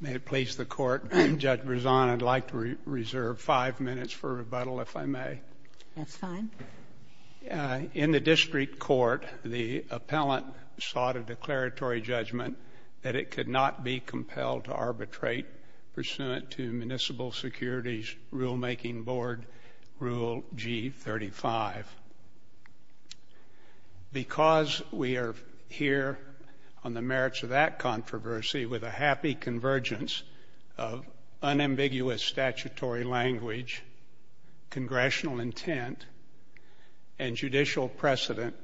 May it please the Court, Judge Brezon, I'd like to reserve five minutes for rebuttal, if I may. That's fine. In the district court, the appellant sought a declaratory judgment that it could not be compelled to arbitrate pursuant to Municipal Securities Rulemaking Board Rule G35. Because we are here on the merits of that controversy, with a happy convergence of unambiguous statutory language, congressional intent, and judicial precedent,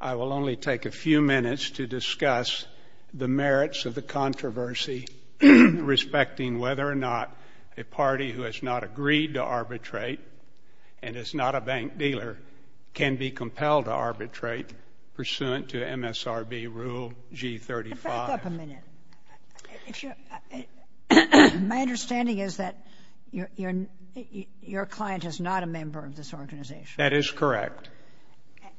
I will only take a few minutes to discuss the merits of the controversy respecting whether or not a party who has not agreed to arbitrate and is not a bank dealer can be compelled to arbitrate pursuant to MSRB Rule G35. If I could have a minute. My understanding is that your client is not a member of this organization. That is correct.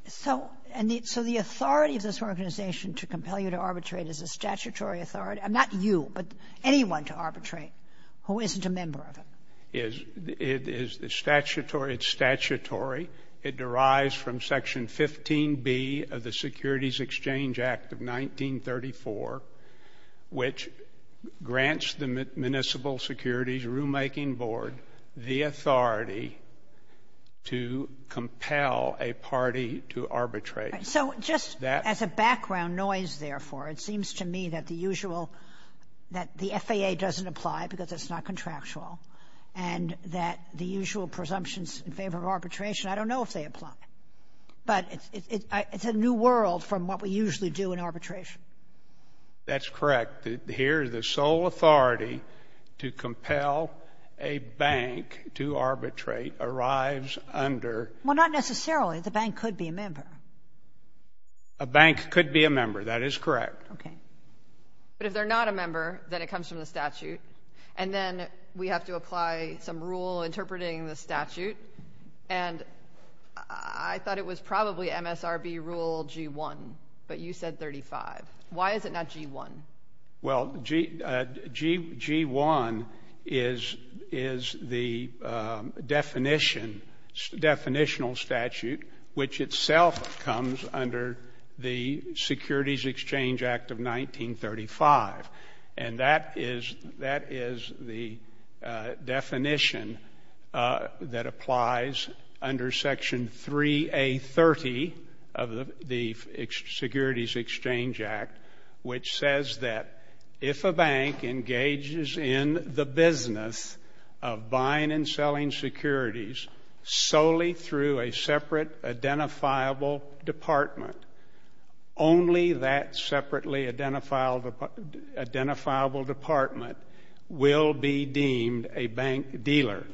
So the authority of this organization to compel you to arbitrate is a statutory authority? Not you, but anyone to arbitrate who isn't a member of it. It's statutory. It derives from Section 15B of the Securities Exchange Act of 1934, which grants the Municipal Securities Rulemaking Board the authority to compel a party to arbitrate. So just as a background noise, therefore, it seems to me that the usual — that the FAA doesn't apply because it's not contractual and that the usual presumptions in favor of arbitration, I don't know if they apply. But it's a new world from what we usually do in arbitration. That's correct. Here the sole authority to compel a bank to arbitrate arrives under — Well, not necessarily. A bank could be a member. That is correct. Okay. But if they're not a member, then it comes from the statute, and then we have to apply some rule interpreting the statute. And I thought it was probably MSRB Rule G1, but you said 35. Why is it not G1? Well, G1 is the definition, definitional statute, which itself comes under the Securities Exchange Act of 1935. And that is the definition that applies under Section 3A30 of the Securities Exchange Act, which says that if a bank engages in the business of buying and selling securities solely through a separate identifiable department, only that separately identifiable department will be deemed a bank dealer.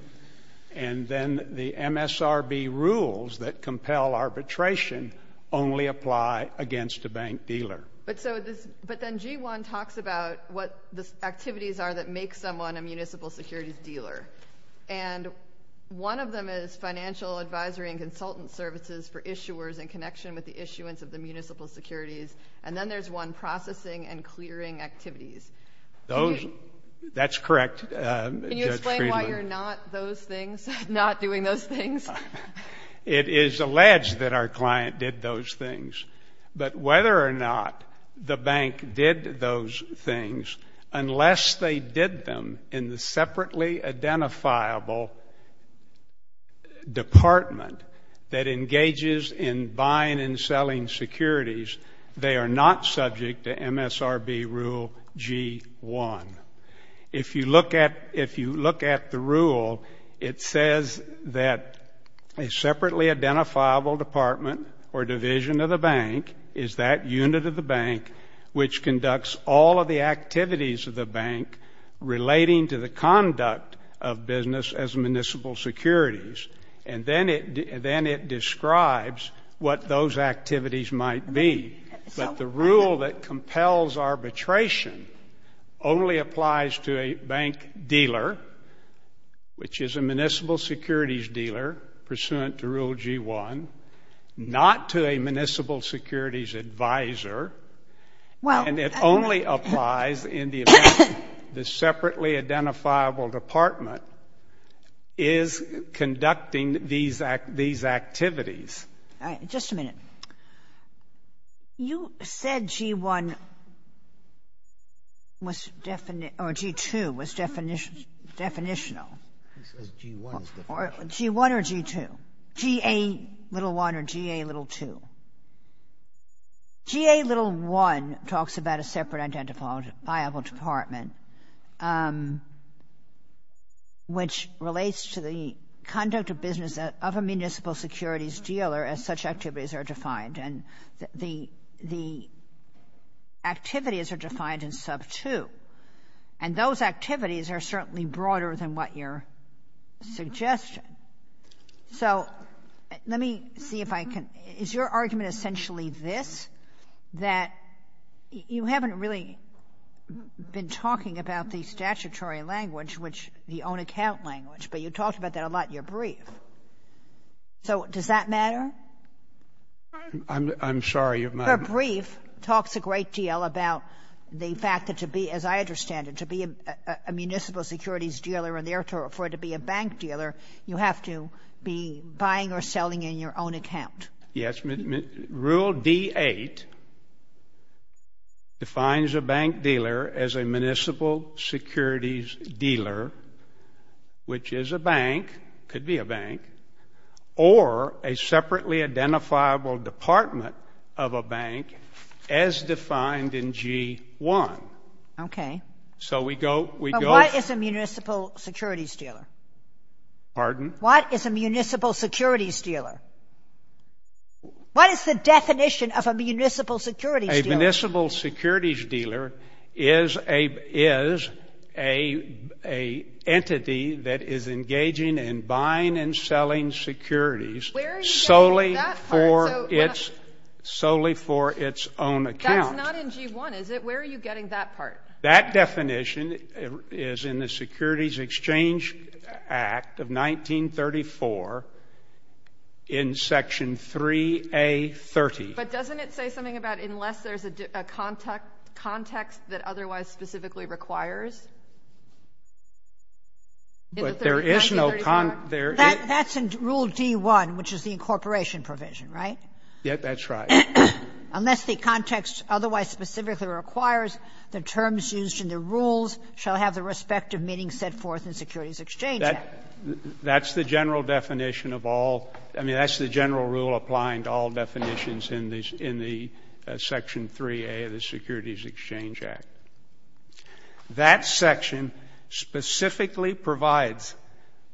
And then the MSRB rules that compel arbitration only apply against a bank dealer. But then G1 talks about what the activities are that make someone a municipal securities dealer. And one of them is financial advisory and consultant services for issuers in connection with the issuance of the municipal securities. And then there's one processing and clearing activities. That's correct, Judge Friedman. Can you explain why you're not those things, not doing those things? It is alleged that our client did those things. But whether or not the bank did those things, unless they did them in the separately identifiable department that engages in buying and selling securities, they are not subject to MSRB Rule G1. If you look at the rule, it says that a separately identifiable department or division of the bank is that unit of the bank which conducts all of the activities of the bank relating to the conduct of business as municipal securities. And then it describes what those activities might be. But the rule that compels arbitration only applies to a bank dealer, which is a municipal securities dealer pursuant to Rule G1, not to a municipal securities advisor. And it only applies in the event the separately identifiable department is conducting these activities. All right. Just a minute. You said G1 was or G2 was definitional. It says G1 is definitional. G1 or G2? GA little 1 or GA little 2? GA little 1 talks about a separately identifiable department, which relates to the conduct of business of a municipal securities dealer as such activities are defined, and the activities are defined in sub 2. And those activities are certainly broader than what you're suggesting. So let me see if I can — is your argument essentially this, that you haven't really been talking about the statutory language, which the own account language, but you talked about that a lot in your brief? So does that matter? I'm sorry. Her brief talks a great deal about the fact that to be, as I understand it, to be a municipal securities dealer and therefore to be a bank dealer, you have to be buying or selling in your own account. Yes. Rule D8 defines a bank dealer as a municipal securities dealer, which is a bank, could be a bank, or a separately identifiable department of a bank as defined in G1. Okay. So we go — But what is a municipal securities dealer? Pardon? What is a municipal securities dealer? What is the definition of a municipal securities dealer? A municipal securities dealer is an entity that is engaging in buying and selling securities solely for its own account. That's not in G1, is it? Where are you getting that part? That definition is in the Securities Exchange Act of 1934 in Section 3A30. But doesn't it say something about unless there's a context that otherwise specifically requires? But there is no — That's in Rule D1, which is the incorporation provision, right? Yes, that's right. Unless the context otherwise specifically requires, the terms used in the rules shall have the respective meaning set forth in the Securities Exchange Act. That's the general definition of all — I mean, that's the general rule applying to all definitions in the Section 3A of the Securities Exchange Act. That section specifically provides,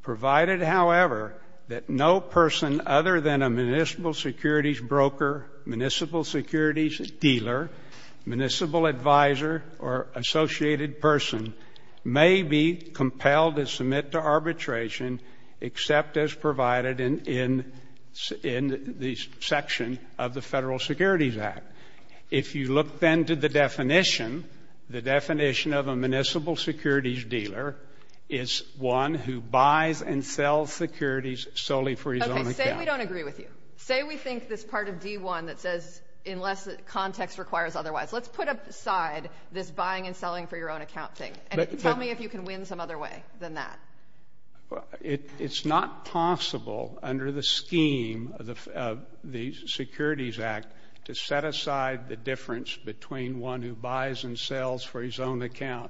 provided, however, that no person other than a municipal securities broker, municipal securities dealer, municipal advisor, or associated person may be compelled to submit to arbitration except as provided in the section of the Federal Securities Act. If you look then to the definition, the definition of a municipal securities dealer is one who buys and sells securities solely for his own account. Okay, say we don't agree with you. Say we think this part of D1 that says unless context requires otherwise. Let's put aside this buying and selling for your own account thing. And tell me if you can win some other way than that. It's not possible under the scheme of the Securities Act to set aside the difference between one who buys and sells for his own account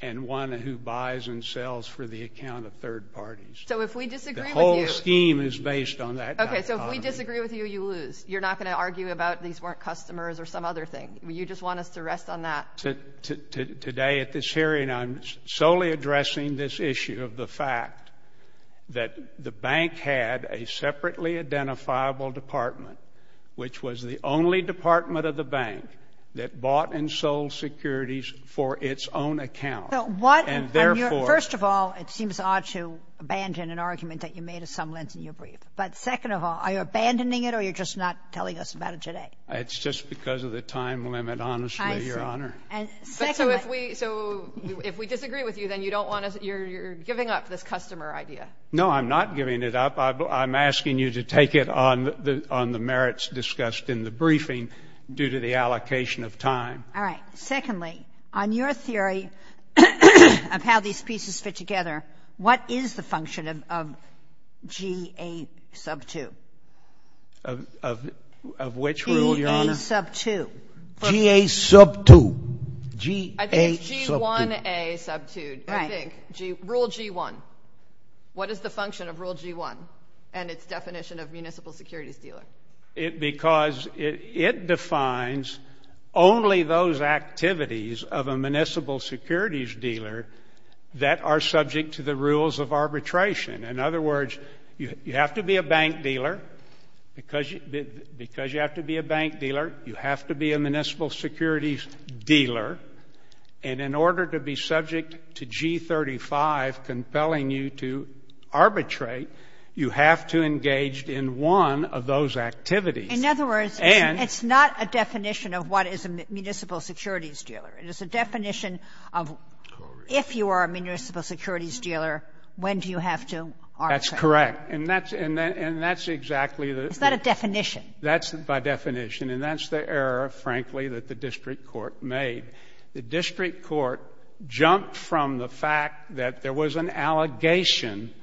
and one who buys and sells for the account of third parties. So if we disagree with you — The whole scheme is based on that dichotomy. Okay, so if we disagree with you, you lose. You're not going to argue about these weren't customers or some other thing. You just want us to rest on that. Today at this hearing, I'm solely addressing this issue of the fact that the bank had a separately identifiable department, which was the only department of the bank that bought and sold securities for its own account. And therefore — First of all, it seems odd to abandon an argument that you made at some length in your brief. But second of all, are you abandoning it or you're just not telling us about it today? It's just because of the time limit, honestly, Your Honor. And secondly — But so if we — so if we disagree with you, then you don't want us — you're giving up this customer idea. No, I'm not giving it up. I'm asking you to take it on the merits discussed in the briefing due to the allocation of time. All right. Secondly, on your theory of how these pieces fit together, what is the function of G.A. sub 2? Of which rule, Your Honor? G.A. sub 2. G.A. sub 2. G.A. sub 2. I think it's G1A sub 2. Right. I think. Rule G1. What is the function of Rule G1 and its definition of municipal securities dealer? Because it defines only those activities of a municipal securities dealer that are subject to the rules of arbitration. In other words, you have to be a bank dealer. Because you have to be a bank dealer, you have to be a municipal securities dealer. And in order to be subject to G35 compelling you to arbitrate, you have to engage in one of those activities. In other words, it's not a definition of what is a municipal securities dealer. It is a definition of if you are a municipal securities dealer, when do you have to arbitrate? That's correct. And that's exactly the... Is that a definition? That's by definition. And that's the error, frankly, that the district court made. The district court jumped from the fact that there was an allegation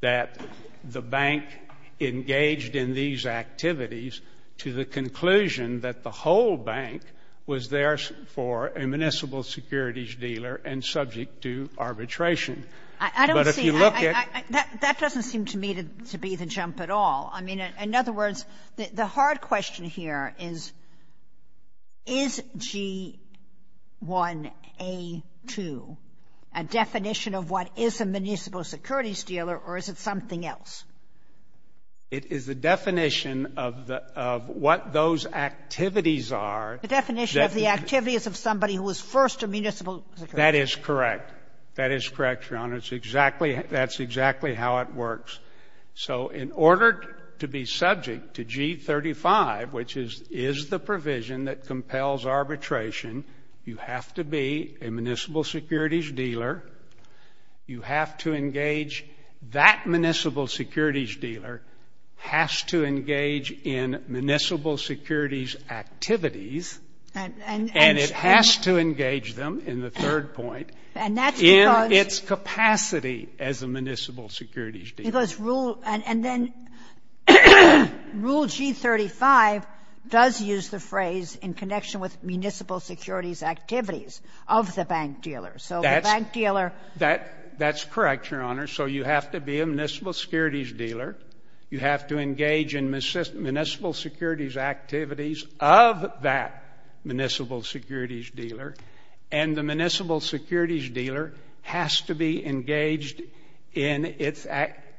that the bank engaged in these activities to the conclusion that the whole bank was there for a municipal securities dealer and subject to arbitration. But if you look at... I don't see... That doesn't seem to me to be the jump at all. I mean, in other words, the hard question here is, is G1A2 a definition of what is a municipal securities dealer or is it something else? It is a definition of what those activities are. The definition of the activity is of somebody who was first a municipal securities dealer. That is correct. That is correct, Your Honor. It's exactly... That's exactly how it works. So in order to be subject to G35, which is the provision that compels arbitration, you have to be a municipal securities dealer. You have to engage... That municipal securities dealer has to engage in municipal securities activities. And it has to engage them, in the third point. And that's because... In its capacity as a municipal securities dealer. Because rule... And then Rule G35 does use the phrase in connection with municipal securities activities of the bank dealer. So the bank dealer... That's correct, Your Honor. So you have to be a municipal securities dealer. You have to engage in municipal securities activities of that municipal securities dealer. And the municipal securities dealer has to be engaged in its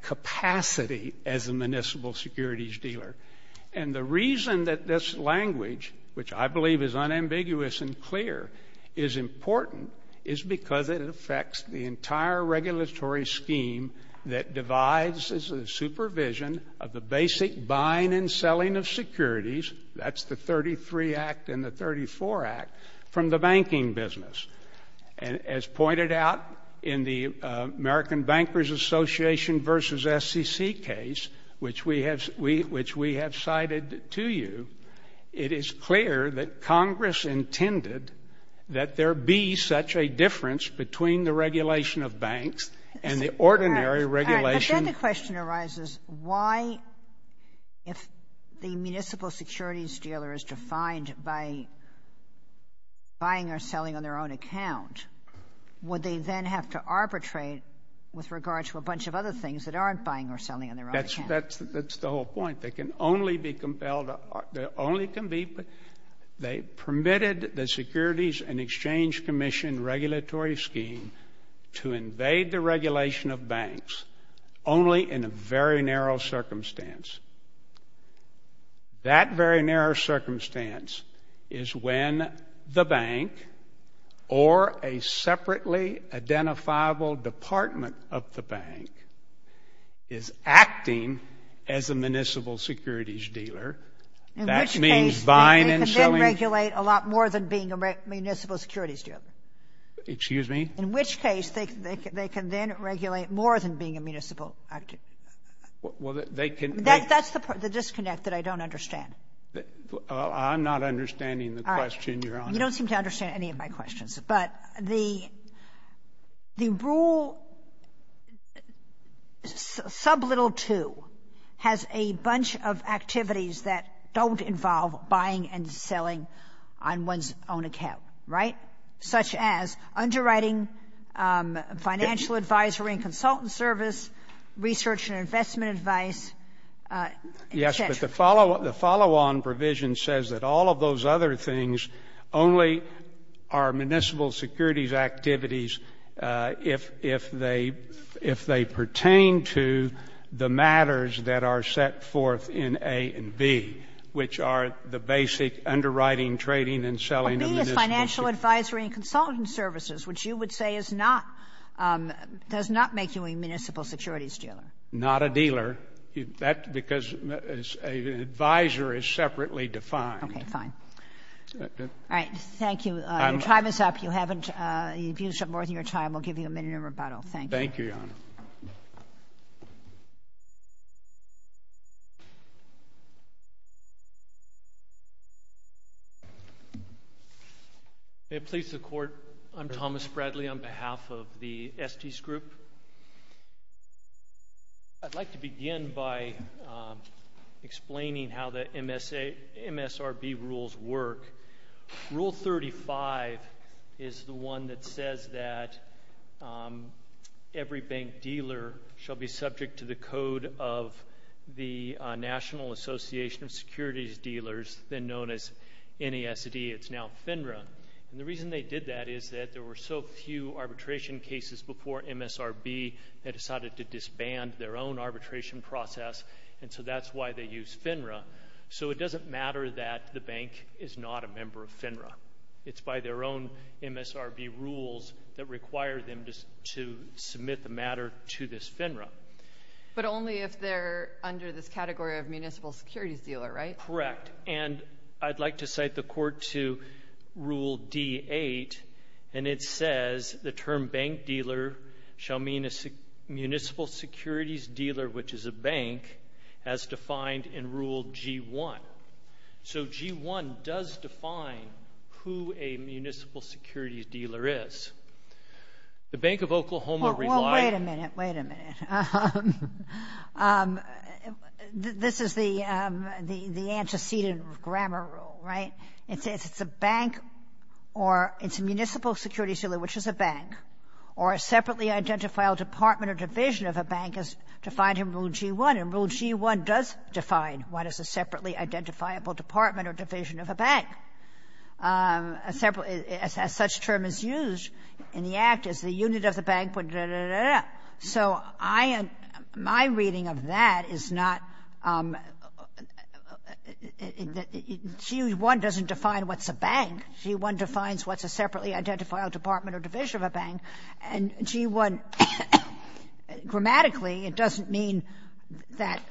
capacity as a municipal securities dealer. And the reason that this language, which I believe is unambiguous and clear, is important, is because it affects the entire regulatory scheme that divides as a supervision of the basic buying and selling of securities. That's the 33 Act and the 34 Act from the banking business. As pointed out in the American Bankers Association v. SEC case, which we have cited to you, it is clear that Congress intended that there be such a difference between the regulation of banks and the ordinary regulation... Would they then have to arbitrate with regard to a bunch of other things that aren't buying or selling on their own account? That's the whole point. They can only be compelled to... There only can be... They permitted the Securities and Exchange Commission regulatory scheme to invade the regulation of banks only in a very narrow circumstance. That very narrow circumstance is when the bank or a separately identifiable department of the bank is acting as a municipal securities dealer. That means buying and selling... In which case they can then regulate a lot more than being a municipal securities dealer. Excuse me? In which case they can then regulate more than being a municipal. Well, they can... That's the disconnect that I don't understand. I'm not understanding the question, Your Honor. You don't seem to understand any of my questions. But the rule sublittle 2 has a bunch of activities that don't involve buying and selling on one's own account, right? Such as underwriting, financial advisory and consultant service, research and investment advice, et cetera. Yes, but the follow-on provision says that all of those other things only are municipal securities activities if they pertain to the matters that are set forth in A and B, which are the basic underwriting, trading, and selling of municipal securities. Financial advisory and consultant services, which you would say is not, does not make you a municipal securities dealer. Not a dealer. That's because an advisor is separately defined. Okay, fine. All right, thank you. Your time is up. You haven't used up more than your time. We'll give you a minute of rebuttal. Thank you. Thank you, Your Honor. May it please the Court, I'm Thomas Bradley on behalf of the Estes Group. I'd like to begin by explaining how the MSRB rules work. Rule 35 is the one that says that every bank dealer shall be subject to the code of the National Association of Securities Dealers, then known as NASD, it's now FINRA. And the reason they did that is that there were so few arbitration cases before MSRB that decided to disband their own arbitration process, and so that's why they use FINRA. So it doesn't matter that the bank is not a member of FINRA. It's by their own MSRB rules that require them to submit the matter to this FINRA. But only if they're under this category of municipal securities dealer, right? That's correct. And I'd like to cite the Court to Rule D-8, and it says the term bank dealer shall mean a municipal securities dealer, which is a bank, as defined in Rule G-1. So G-1 does define who a municipal securities dealer is. The Bank of Oklahoma relied on it. Well, wait a minute, wait a minute. This is the antecedent grammar rule, right? It says it's a bank or it's a municipal securities dealer, which is a bank, or a separately identifiable department or division of a bank as defined in Rule G-1. And Rule G-1 does define what is a separately identifiable department or division of a bank. A separate as such term is used in the Act as the unit of the bank. So my reading of that is not — G-1 doesn't define what's a bank. G-1 defines what's a separately identifiable department or division of a bank. And G-1, grammatically, it doesn't mean that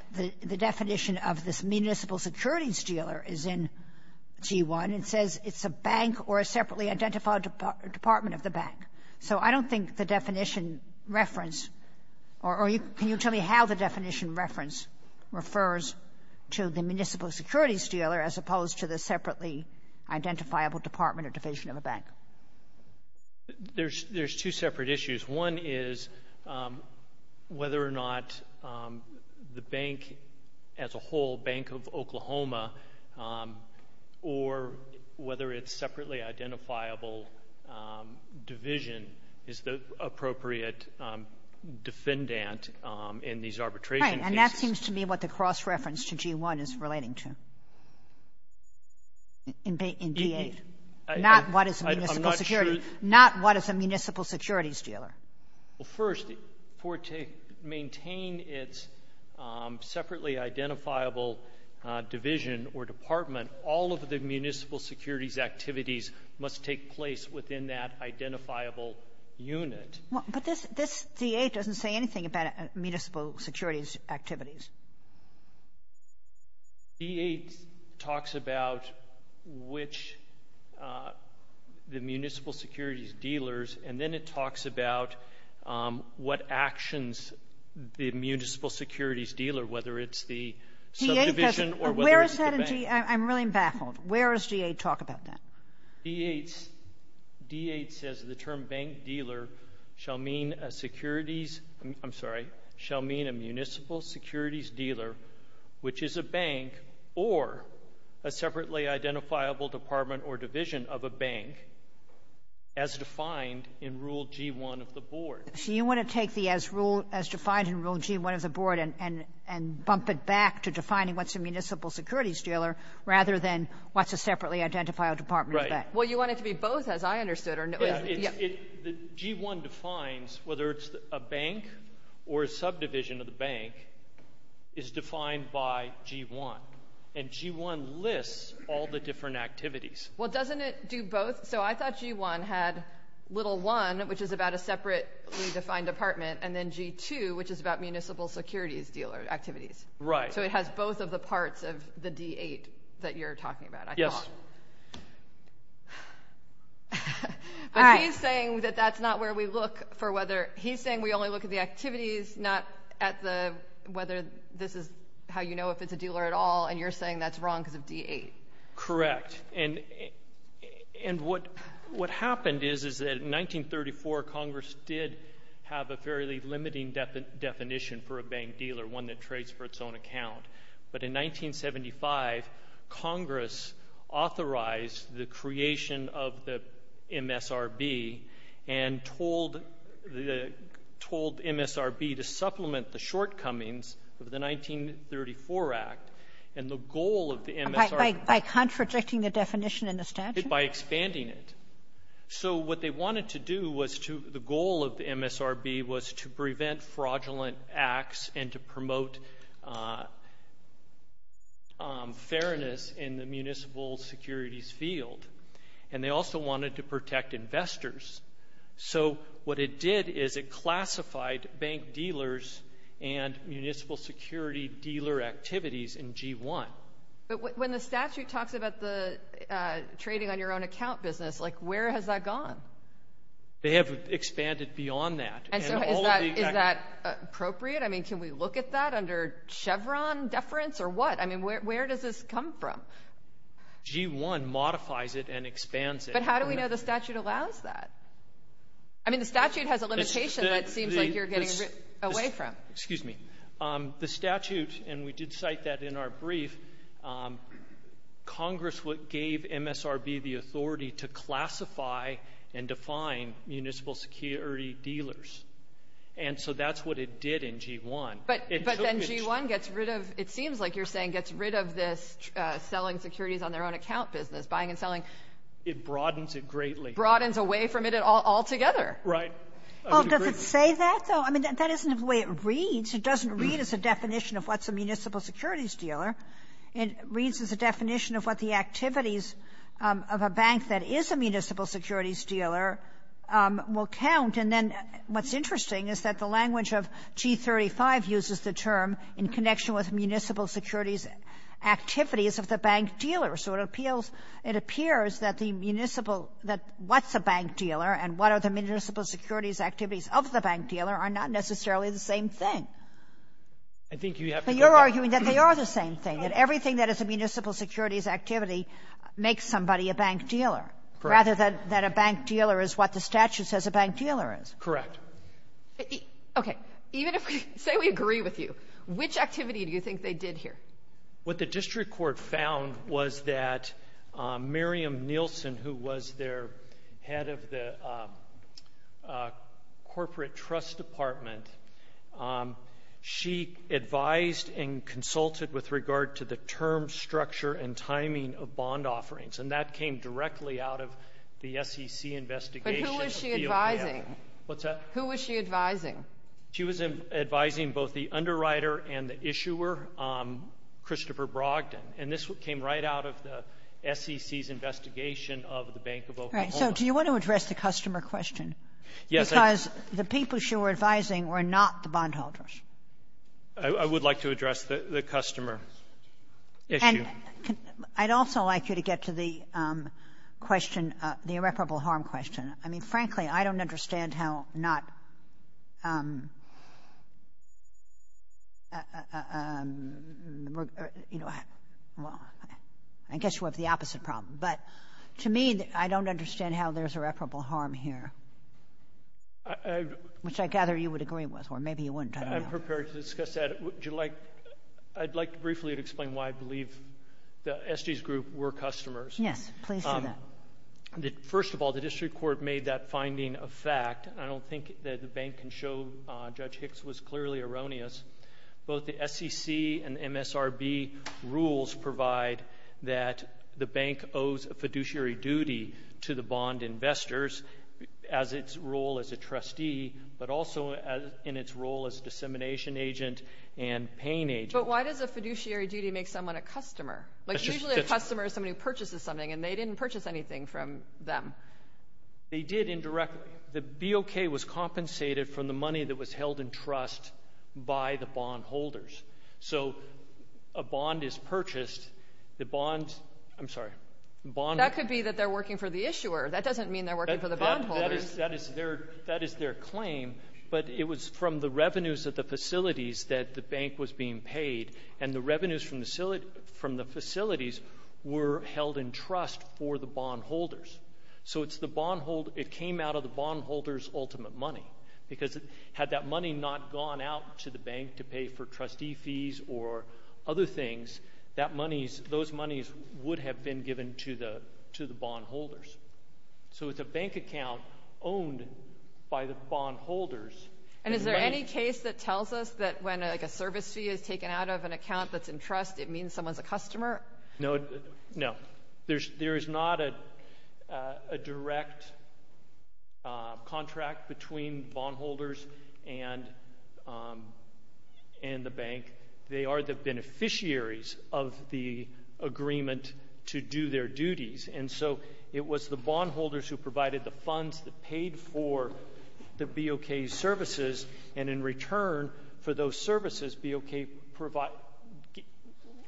the definition of this municipal securities dealer is in G-1. It says it's a bank or a separately identifiable department of the bank. So I don't think the definition reference or can you tell me how the definition reference refers to the municipal securities dealer as opposed to the separately identifiable department or division of a bank? There's two separate issues. One is whether or not the bank as a whole, Bank of Oklahoma, or whether its separately identifiable division is the appropriate defendant in these arbitration cases. Right. And that seems to me what the cross-reference to G-1 is relating to in D-8. Not what is a municipal security — I'm not sure — Not what is a municipal securities dealer. Well, first, for it to maintain its separately identifiable division or department, all of the municipal securities activities must take place within that identifiable unit. But this D-8 doesn't say anything about municipal securities activities. D-8 talks about which the municipal securities dealers, and then it talks about what actions the municipal securities dealer, whether it's the subdivision or whether it's the bank. I'm really baffled. Where does D-8 talk about that? D-8 says the term bank dealer shall mean a securities — I'm sorry — shall mean a municipal securities dealer, which is a bank or a separately identifiable department or division of a bank, as defined in Rule G-1 of the Board. So you want to take the as defined in Rule G-1 of the Board and bump it back to defining what's a municipal securities dealer rather than what's a separately identifiable department or bank. Well, you want it to be both, as I understood. G-1 defines whether it's a bank or a subdivision of the bank is defined by G-1. And G-1 lists all the different activities. Well, doesn't it do both? So I thought G-1 had little 1, which is about a separately defined department, and then G-2, which is about municipal securities dealer activities. Right. So it has both of the parts of the D-8 that you're talking about, I thought. Yes. But he's saying that that's not where we look for whether — he's saying we only look at the activities, not at whether this is how you know if it's a dealer at all, and you're saying that's wrong because of D-8. Correct. And what happened is that in 1934, Congress did have a fairly limiting definition for a bank dealer, one that trades for its own account. But in 1975, Congress authorized the creation of the MSRB and told the MSRB to supplement the shortcomings of the 1934 Act. And the goal of the MSRB — By contradicting the definition in the statute? By expanding it. So what they wanted to do was to — to promote fairness in the municipal securities field. And they also wanted to protect investors. So what it did is it classified bank dealers and municipal security dealer activities in G-1. But when the statute talks about the trading on your own account business, like where has that gone? They have expanded beyond that. And so is that appropriate? I mean, can we look at that under Chevron deference or what? I mean, where does this come from? G-1 modifies it and expands it. But how do we know the statute allows that? I mean, the statute has a limitation that seems like you're getting away from. Excuse me. The statute, and we did cite that in our brief, Congress gave MSRB the authority to classify and define municipal security dealers. And so that's what it did in G-1. But then G-1 gets rid of, it seems like you're saying, gets rid of this selling securities on their own account business, buying and selling. It broadens it greatly. Broadens away from it altogether. Right. Does it say that, though? I mean, that isn't the way it reads. It doesn't read as a definition of what's a municipal securities dealer. It reads as a definition of what the activities of a bank that is a municipal securities dealer will count. And then what's interesting is that the language of G-35 uses the term in connection with municipal securities activities of the bank dealer. So it appeals, it appears that the municipal, that what's a bank dealer and what are the municipal securities activities of the bank dealer are not necessarily the same thing. I think you have to get that. But you're arguing that they are the same thing, that everything that is a municipal securities activity makes somebody a bank dealer. Correct. Rather than a bank dealer is what the statute says a bank dealer is. Correct. Okay. Say we agree with you. Which activity do you think they did here? What the district court found was that Miriam Nielsen, who was their head of the corporate trust department, she advised and consulted with regard to the term structure and timing of bond offerings. And that came directly out of the SEC investigation. But who was she advising? What's that? Who was she advising? She was advising both the underwriter and the issuer, Christopher Brogdon. And this came right out of the SEC's investigation of the Bank of Oklahoma. So do you want to address the customer question? Yes. Because the people she was advising were not the bondholders. I would like to address the customer issue. Thank you. And I'd also like you to get to the question, the irreparable harm question. I mean, frankly, I don't understand how not, you know, I guess you have the opposite problem. But to me, I don't understand how there's irreparable harm here, which I gather you would agree with, or maybe you wouldn't. I'm prepared to discuss that. I'd like to briefly explain why I believe the Estes Group were customers. Yes, please do that. First of all, the district court made that finding a fact. I don't think that the bank can show Judge Hicks was clearly erroneous. Both the SEC and MSRB rules provide that the bank owes a fiduciary duty to the bond investors as its role as a trustee, but also in its role as a dissemination agent and paying agent. But why does a fiduciary duty make someone a customer? Like usually a customer is somebody who purchases something, and they didn't purchase anything from them. They did indirectly. The BOK was compensated from the money that was held in trust by the bondholders. So a bond is purchased. The bond, I'm sorry. That could be that they're working for the issuer. That doesn't mean they're working for the bondholders. That is their claim, but it was from the revenues of the facilities that the bank was being paid, and the revenues from the facilities were held in trust for the bondholders. So it came out of the bondholders' ultimate money, because had that money not gone out to the bank to pay for trustee fees or other things, those monies would have been given to the bondholders. So it's a bank account owned by the bondholders. And is there any case that tells us that when a service fee is taken out of an account that's in trust, it means someone's a customer? No. There is not a direct contract between bondholders and the bank. They are the beneficiaries of the agreement to do their duties. And so it was the bondholders who provided the funds that paid for the BOK services, and in return for those services, BOK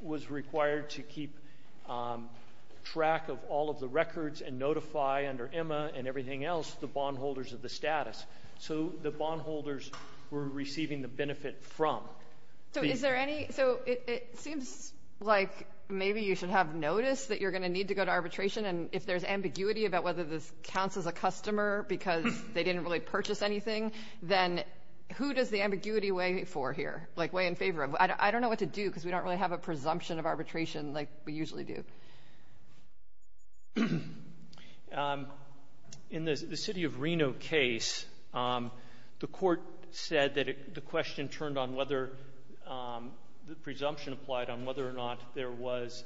was required to keep track of all of the records and notify under EMA and everything else the bondholders of the status. So the bondholders were receiving the benefit from. So it seems like maybe you should have noticed that you're going to need to go to arbitration, and if there's ambiguity about whether this counts as a customer because they didn't really purchase anything, then who does the ambiguity weigh for here, weigh in favor of? I don't know what to do because we don't really have a presumption of arbitration like we usually do. In the city of Reno case, the court said that the question turned on whether the presumption applied on whether or not there was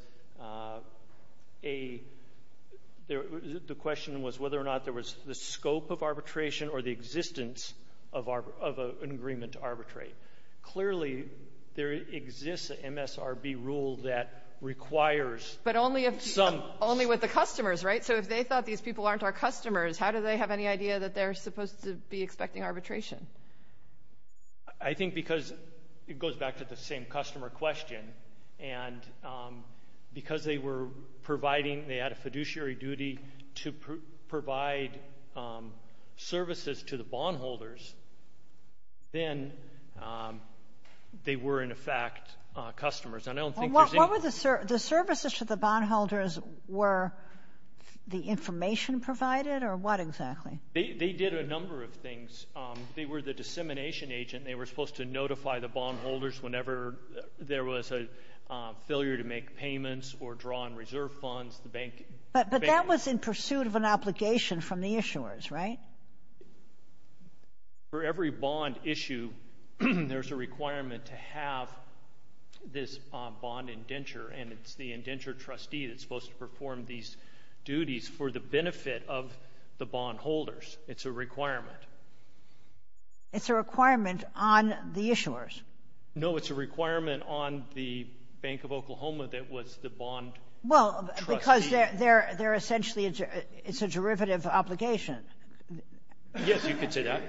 a – the question was whether or not there was the scope of arbitration or the existence of an agreement to arbitrate. Clearly, there exists an MSRB rule that requires some – But only with the customers, right? So if they thought these people aren't our customers, how do they have any idea that they're supposed to be expecting arbitration? I think because it goes back to the same customer question, and because they were providing – they had a fiduciary duty to provide services to the bondholders, then they were, in effect, customers. And I don't think there's any – The services to the bondholders were the information provided or what exactly? They did a number of things. They were the dissemination agent. They were supposed to notify the bondholders whenever there was a failure to make payments or draw on reserve funds. But that was in pursuit of an obligation from the issuers, right? For every bond issue, there's a requirement to have this bond indenture, and it's the indenture trustee that's supposed to perform these duties for the benefit of the bondholders. It's a requirement. It's a requirement on the issuers? No, it's a requirement on the Bank of Oklahoma that was the bond trustee. Well, because they're essentially – it's a derivative obligation. Yes, you could say that.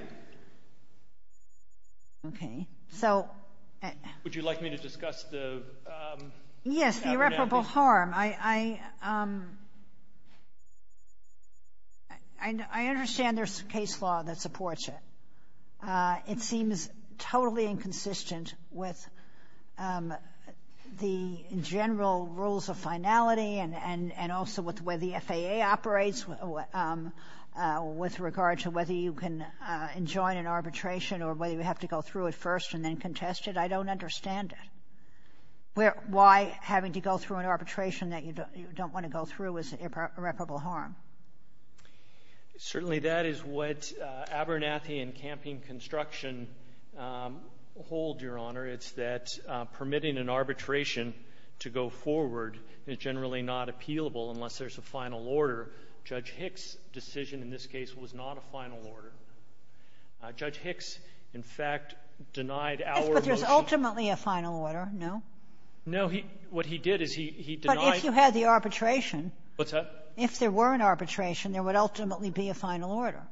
Okay, so – Would you like me to discuss the – Yes, the irreparable harm. I – I understand there's case law that supports it. It seems totally inconsistent with the general rules of finality and also with where the FAA operates with regard to whether you can enjoin an arbitration or whether you have to go through it first and then contest it. I don't understand it. Why having to go through an arbitration that you don't want to go through is irreparable harm? Certainly that is what Abernathy and campaign construction hold, Your Honor. It's that permitting an arbitration to go forward is generally not appealable unless there's a final order. Judge Hicks' decision in this case was not a final order. Judge Hicks, in fact, denied our motion – But there's ultimately a final order, no? No. What he did is he denied – But if you had the arbitration – What's that? If there were an arbitration, there would ultimately be a final order.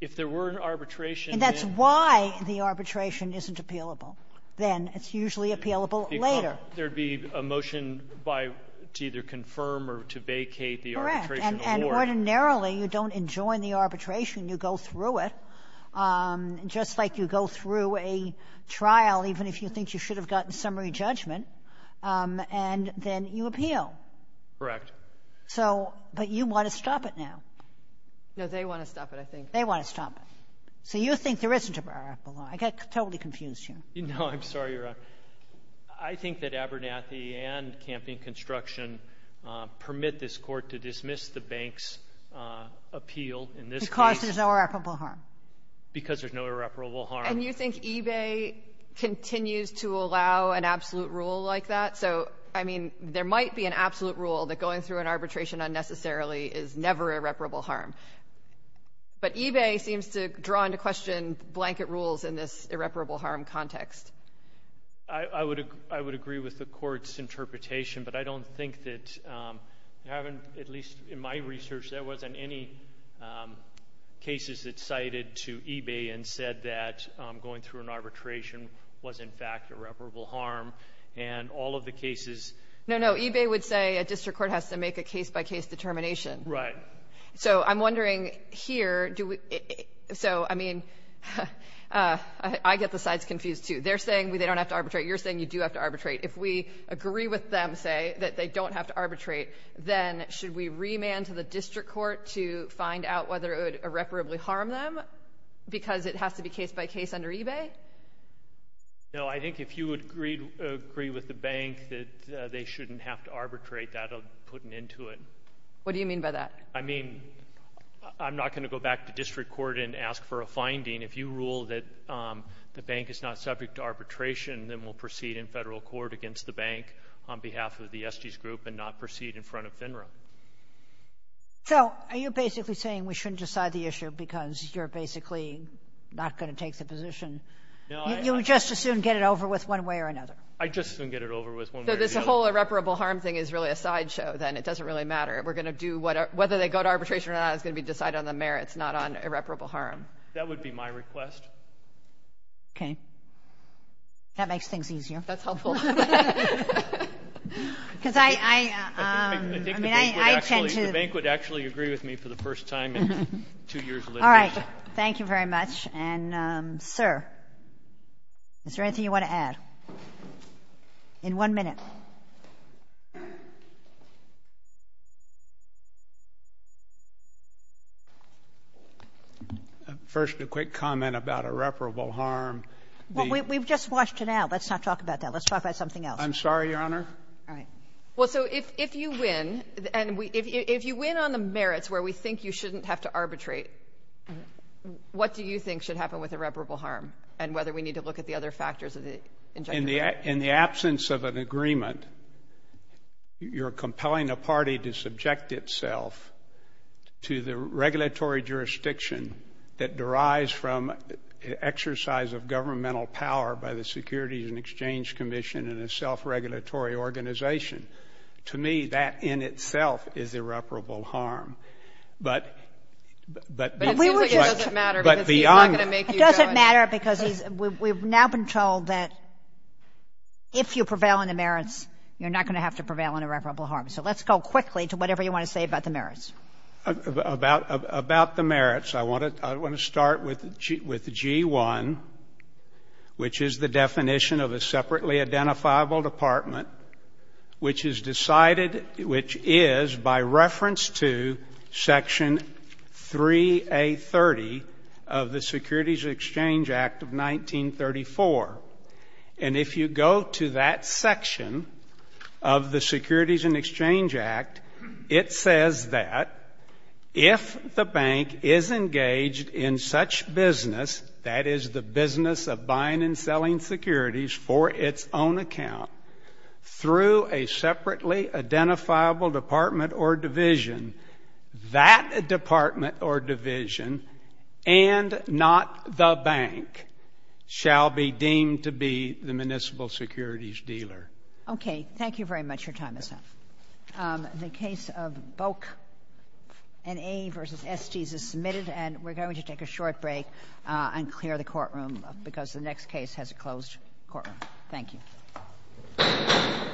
If there were an arbitration – And that's why the arbitration isn't appealable then. It's usually appealable later. There would be a motion to either confirm or to vacate the arbitration award. Correct. And ordinarily, you don't enjoin the arbitration. You go through it. Just like you go through a trial, even if you think you should have gotten summary judgment, and then you appeal. Correct. But you want to stop it now. No, they want to stop it, I think. They want to stop it. So you think there isn't irreparable harm. I totally confused you. No, I'm sorry, Your Honor. I think that Abernathy and campaign construction permit this court to dismiss the bank's appeal in this case. Because there's no irreparable harm. Because there's no irreparable harm. And you think eBay continues to allow an absolute rule like that? So, I mean, there might be an absolute rule that going through an arbitration unnecessarily is never irreparable harm. But eBay seems to draw into question blanket rules in this irreparable harm context. I would agree with the court's interpretation, but I don't think that you haven't, at least in my research, there wasn't any cases that cited to eBay and said that going through an arbitration was, in fact, irreparable harm. And all of the cases. No, no, eBay would say a district court has to make a case-by-case determination. Right. So I'm wondering here, so, I mean, I get the sides confused, too. They're saying they don't have to arbitrate. You're saying you do have to arbitrate. If we agree with them, say, that they don't have to arbitrate, then should we remand to the district court to find out whether it would irreparably harm them because it has to be case-by-case under eBay? No, I think if you agree with the bank that they shouldn't have to arbitrate, that'll put an end to it. What do you mean by that? I mean, I'm not going to go back to district court and ask for a finding. If you rule that the bank is not subject to arbitration, then we'll proceed in federal court against the bank on behalf of the Estes Group and not proceed in front of FINRA. So are you basically saying we shouldn't decide the issue because you're basically not going to take the position? You would just as soon get it over with one way or another? I'd just as soon get it over with one way or another. So this whole irreparable harm thing is really a sideshow, then? It doesn't really matter. We're going to do, whether they go to arbitration or not, it's going to be decided on the merits, not on irreparable harm. That would be my request. Okay. That makes things easier. That's helpful. Because I tend to ‑‑ I think the bank would actually agree with me for the first time in two years of litigation. All right. Thank you very much. And, sir, is there anything you want to add? In one minute. First, a quick comment about irreparable harm. Well, we've just washed it out. Let's not talk about that. Let's talk about something else. I'm sorry, Your Honor. All right. Well, so if you win, and if you win on the merits, where we think you shouldn't have to arbitrate, what do you think should happen with irreparable harm and whether we need to look at the other factors of the injunction? In the absence of an agreement, you're compelling a party to subject itself to the regulatory jurisdiction that derives from an exercise of governmental power by the Securities and Exchange Commission and a self-regulatory organization. To me, that in itself is irreparable harm. But beyond that ‑‑ But it seems like it doesn't matter because he's not going to make you judge. It doesn't matter because we've now been told that if you prevail on the merits, you're not going to have to prevail on irreparable harm. So let's go quickly to whatever you want to say about the merits. About the merits, I want to start with G1, which is the definition of a separately identifiable department, which is decided ‑‑ which is by reference to Section 3A30 of the Securities and Exchange Act of 1934. And if you go to that section of the Securities and Exchange Act, it says that if the bank is engaged in such business, that is the business of buying and selling securities for its own account, through a separately identifiable department or division, that department or division, and not the bank, shall be deemed to be the municipal securities dealer. Okay. Thank you very much. Your time is up. The case of Boak v. Estes is submitted, and we're going to take a short break and clear the courtroom because the next case has a closed courtroom. Thank you.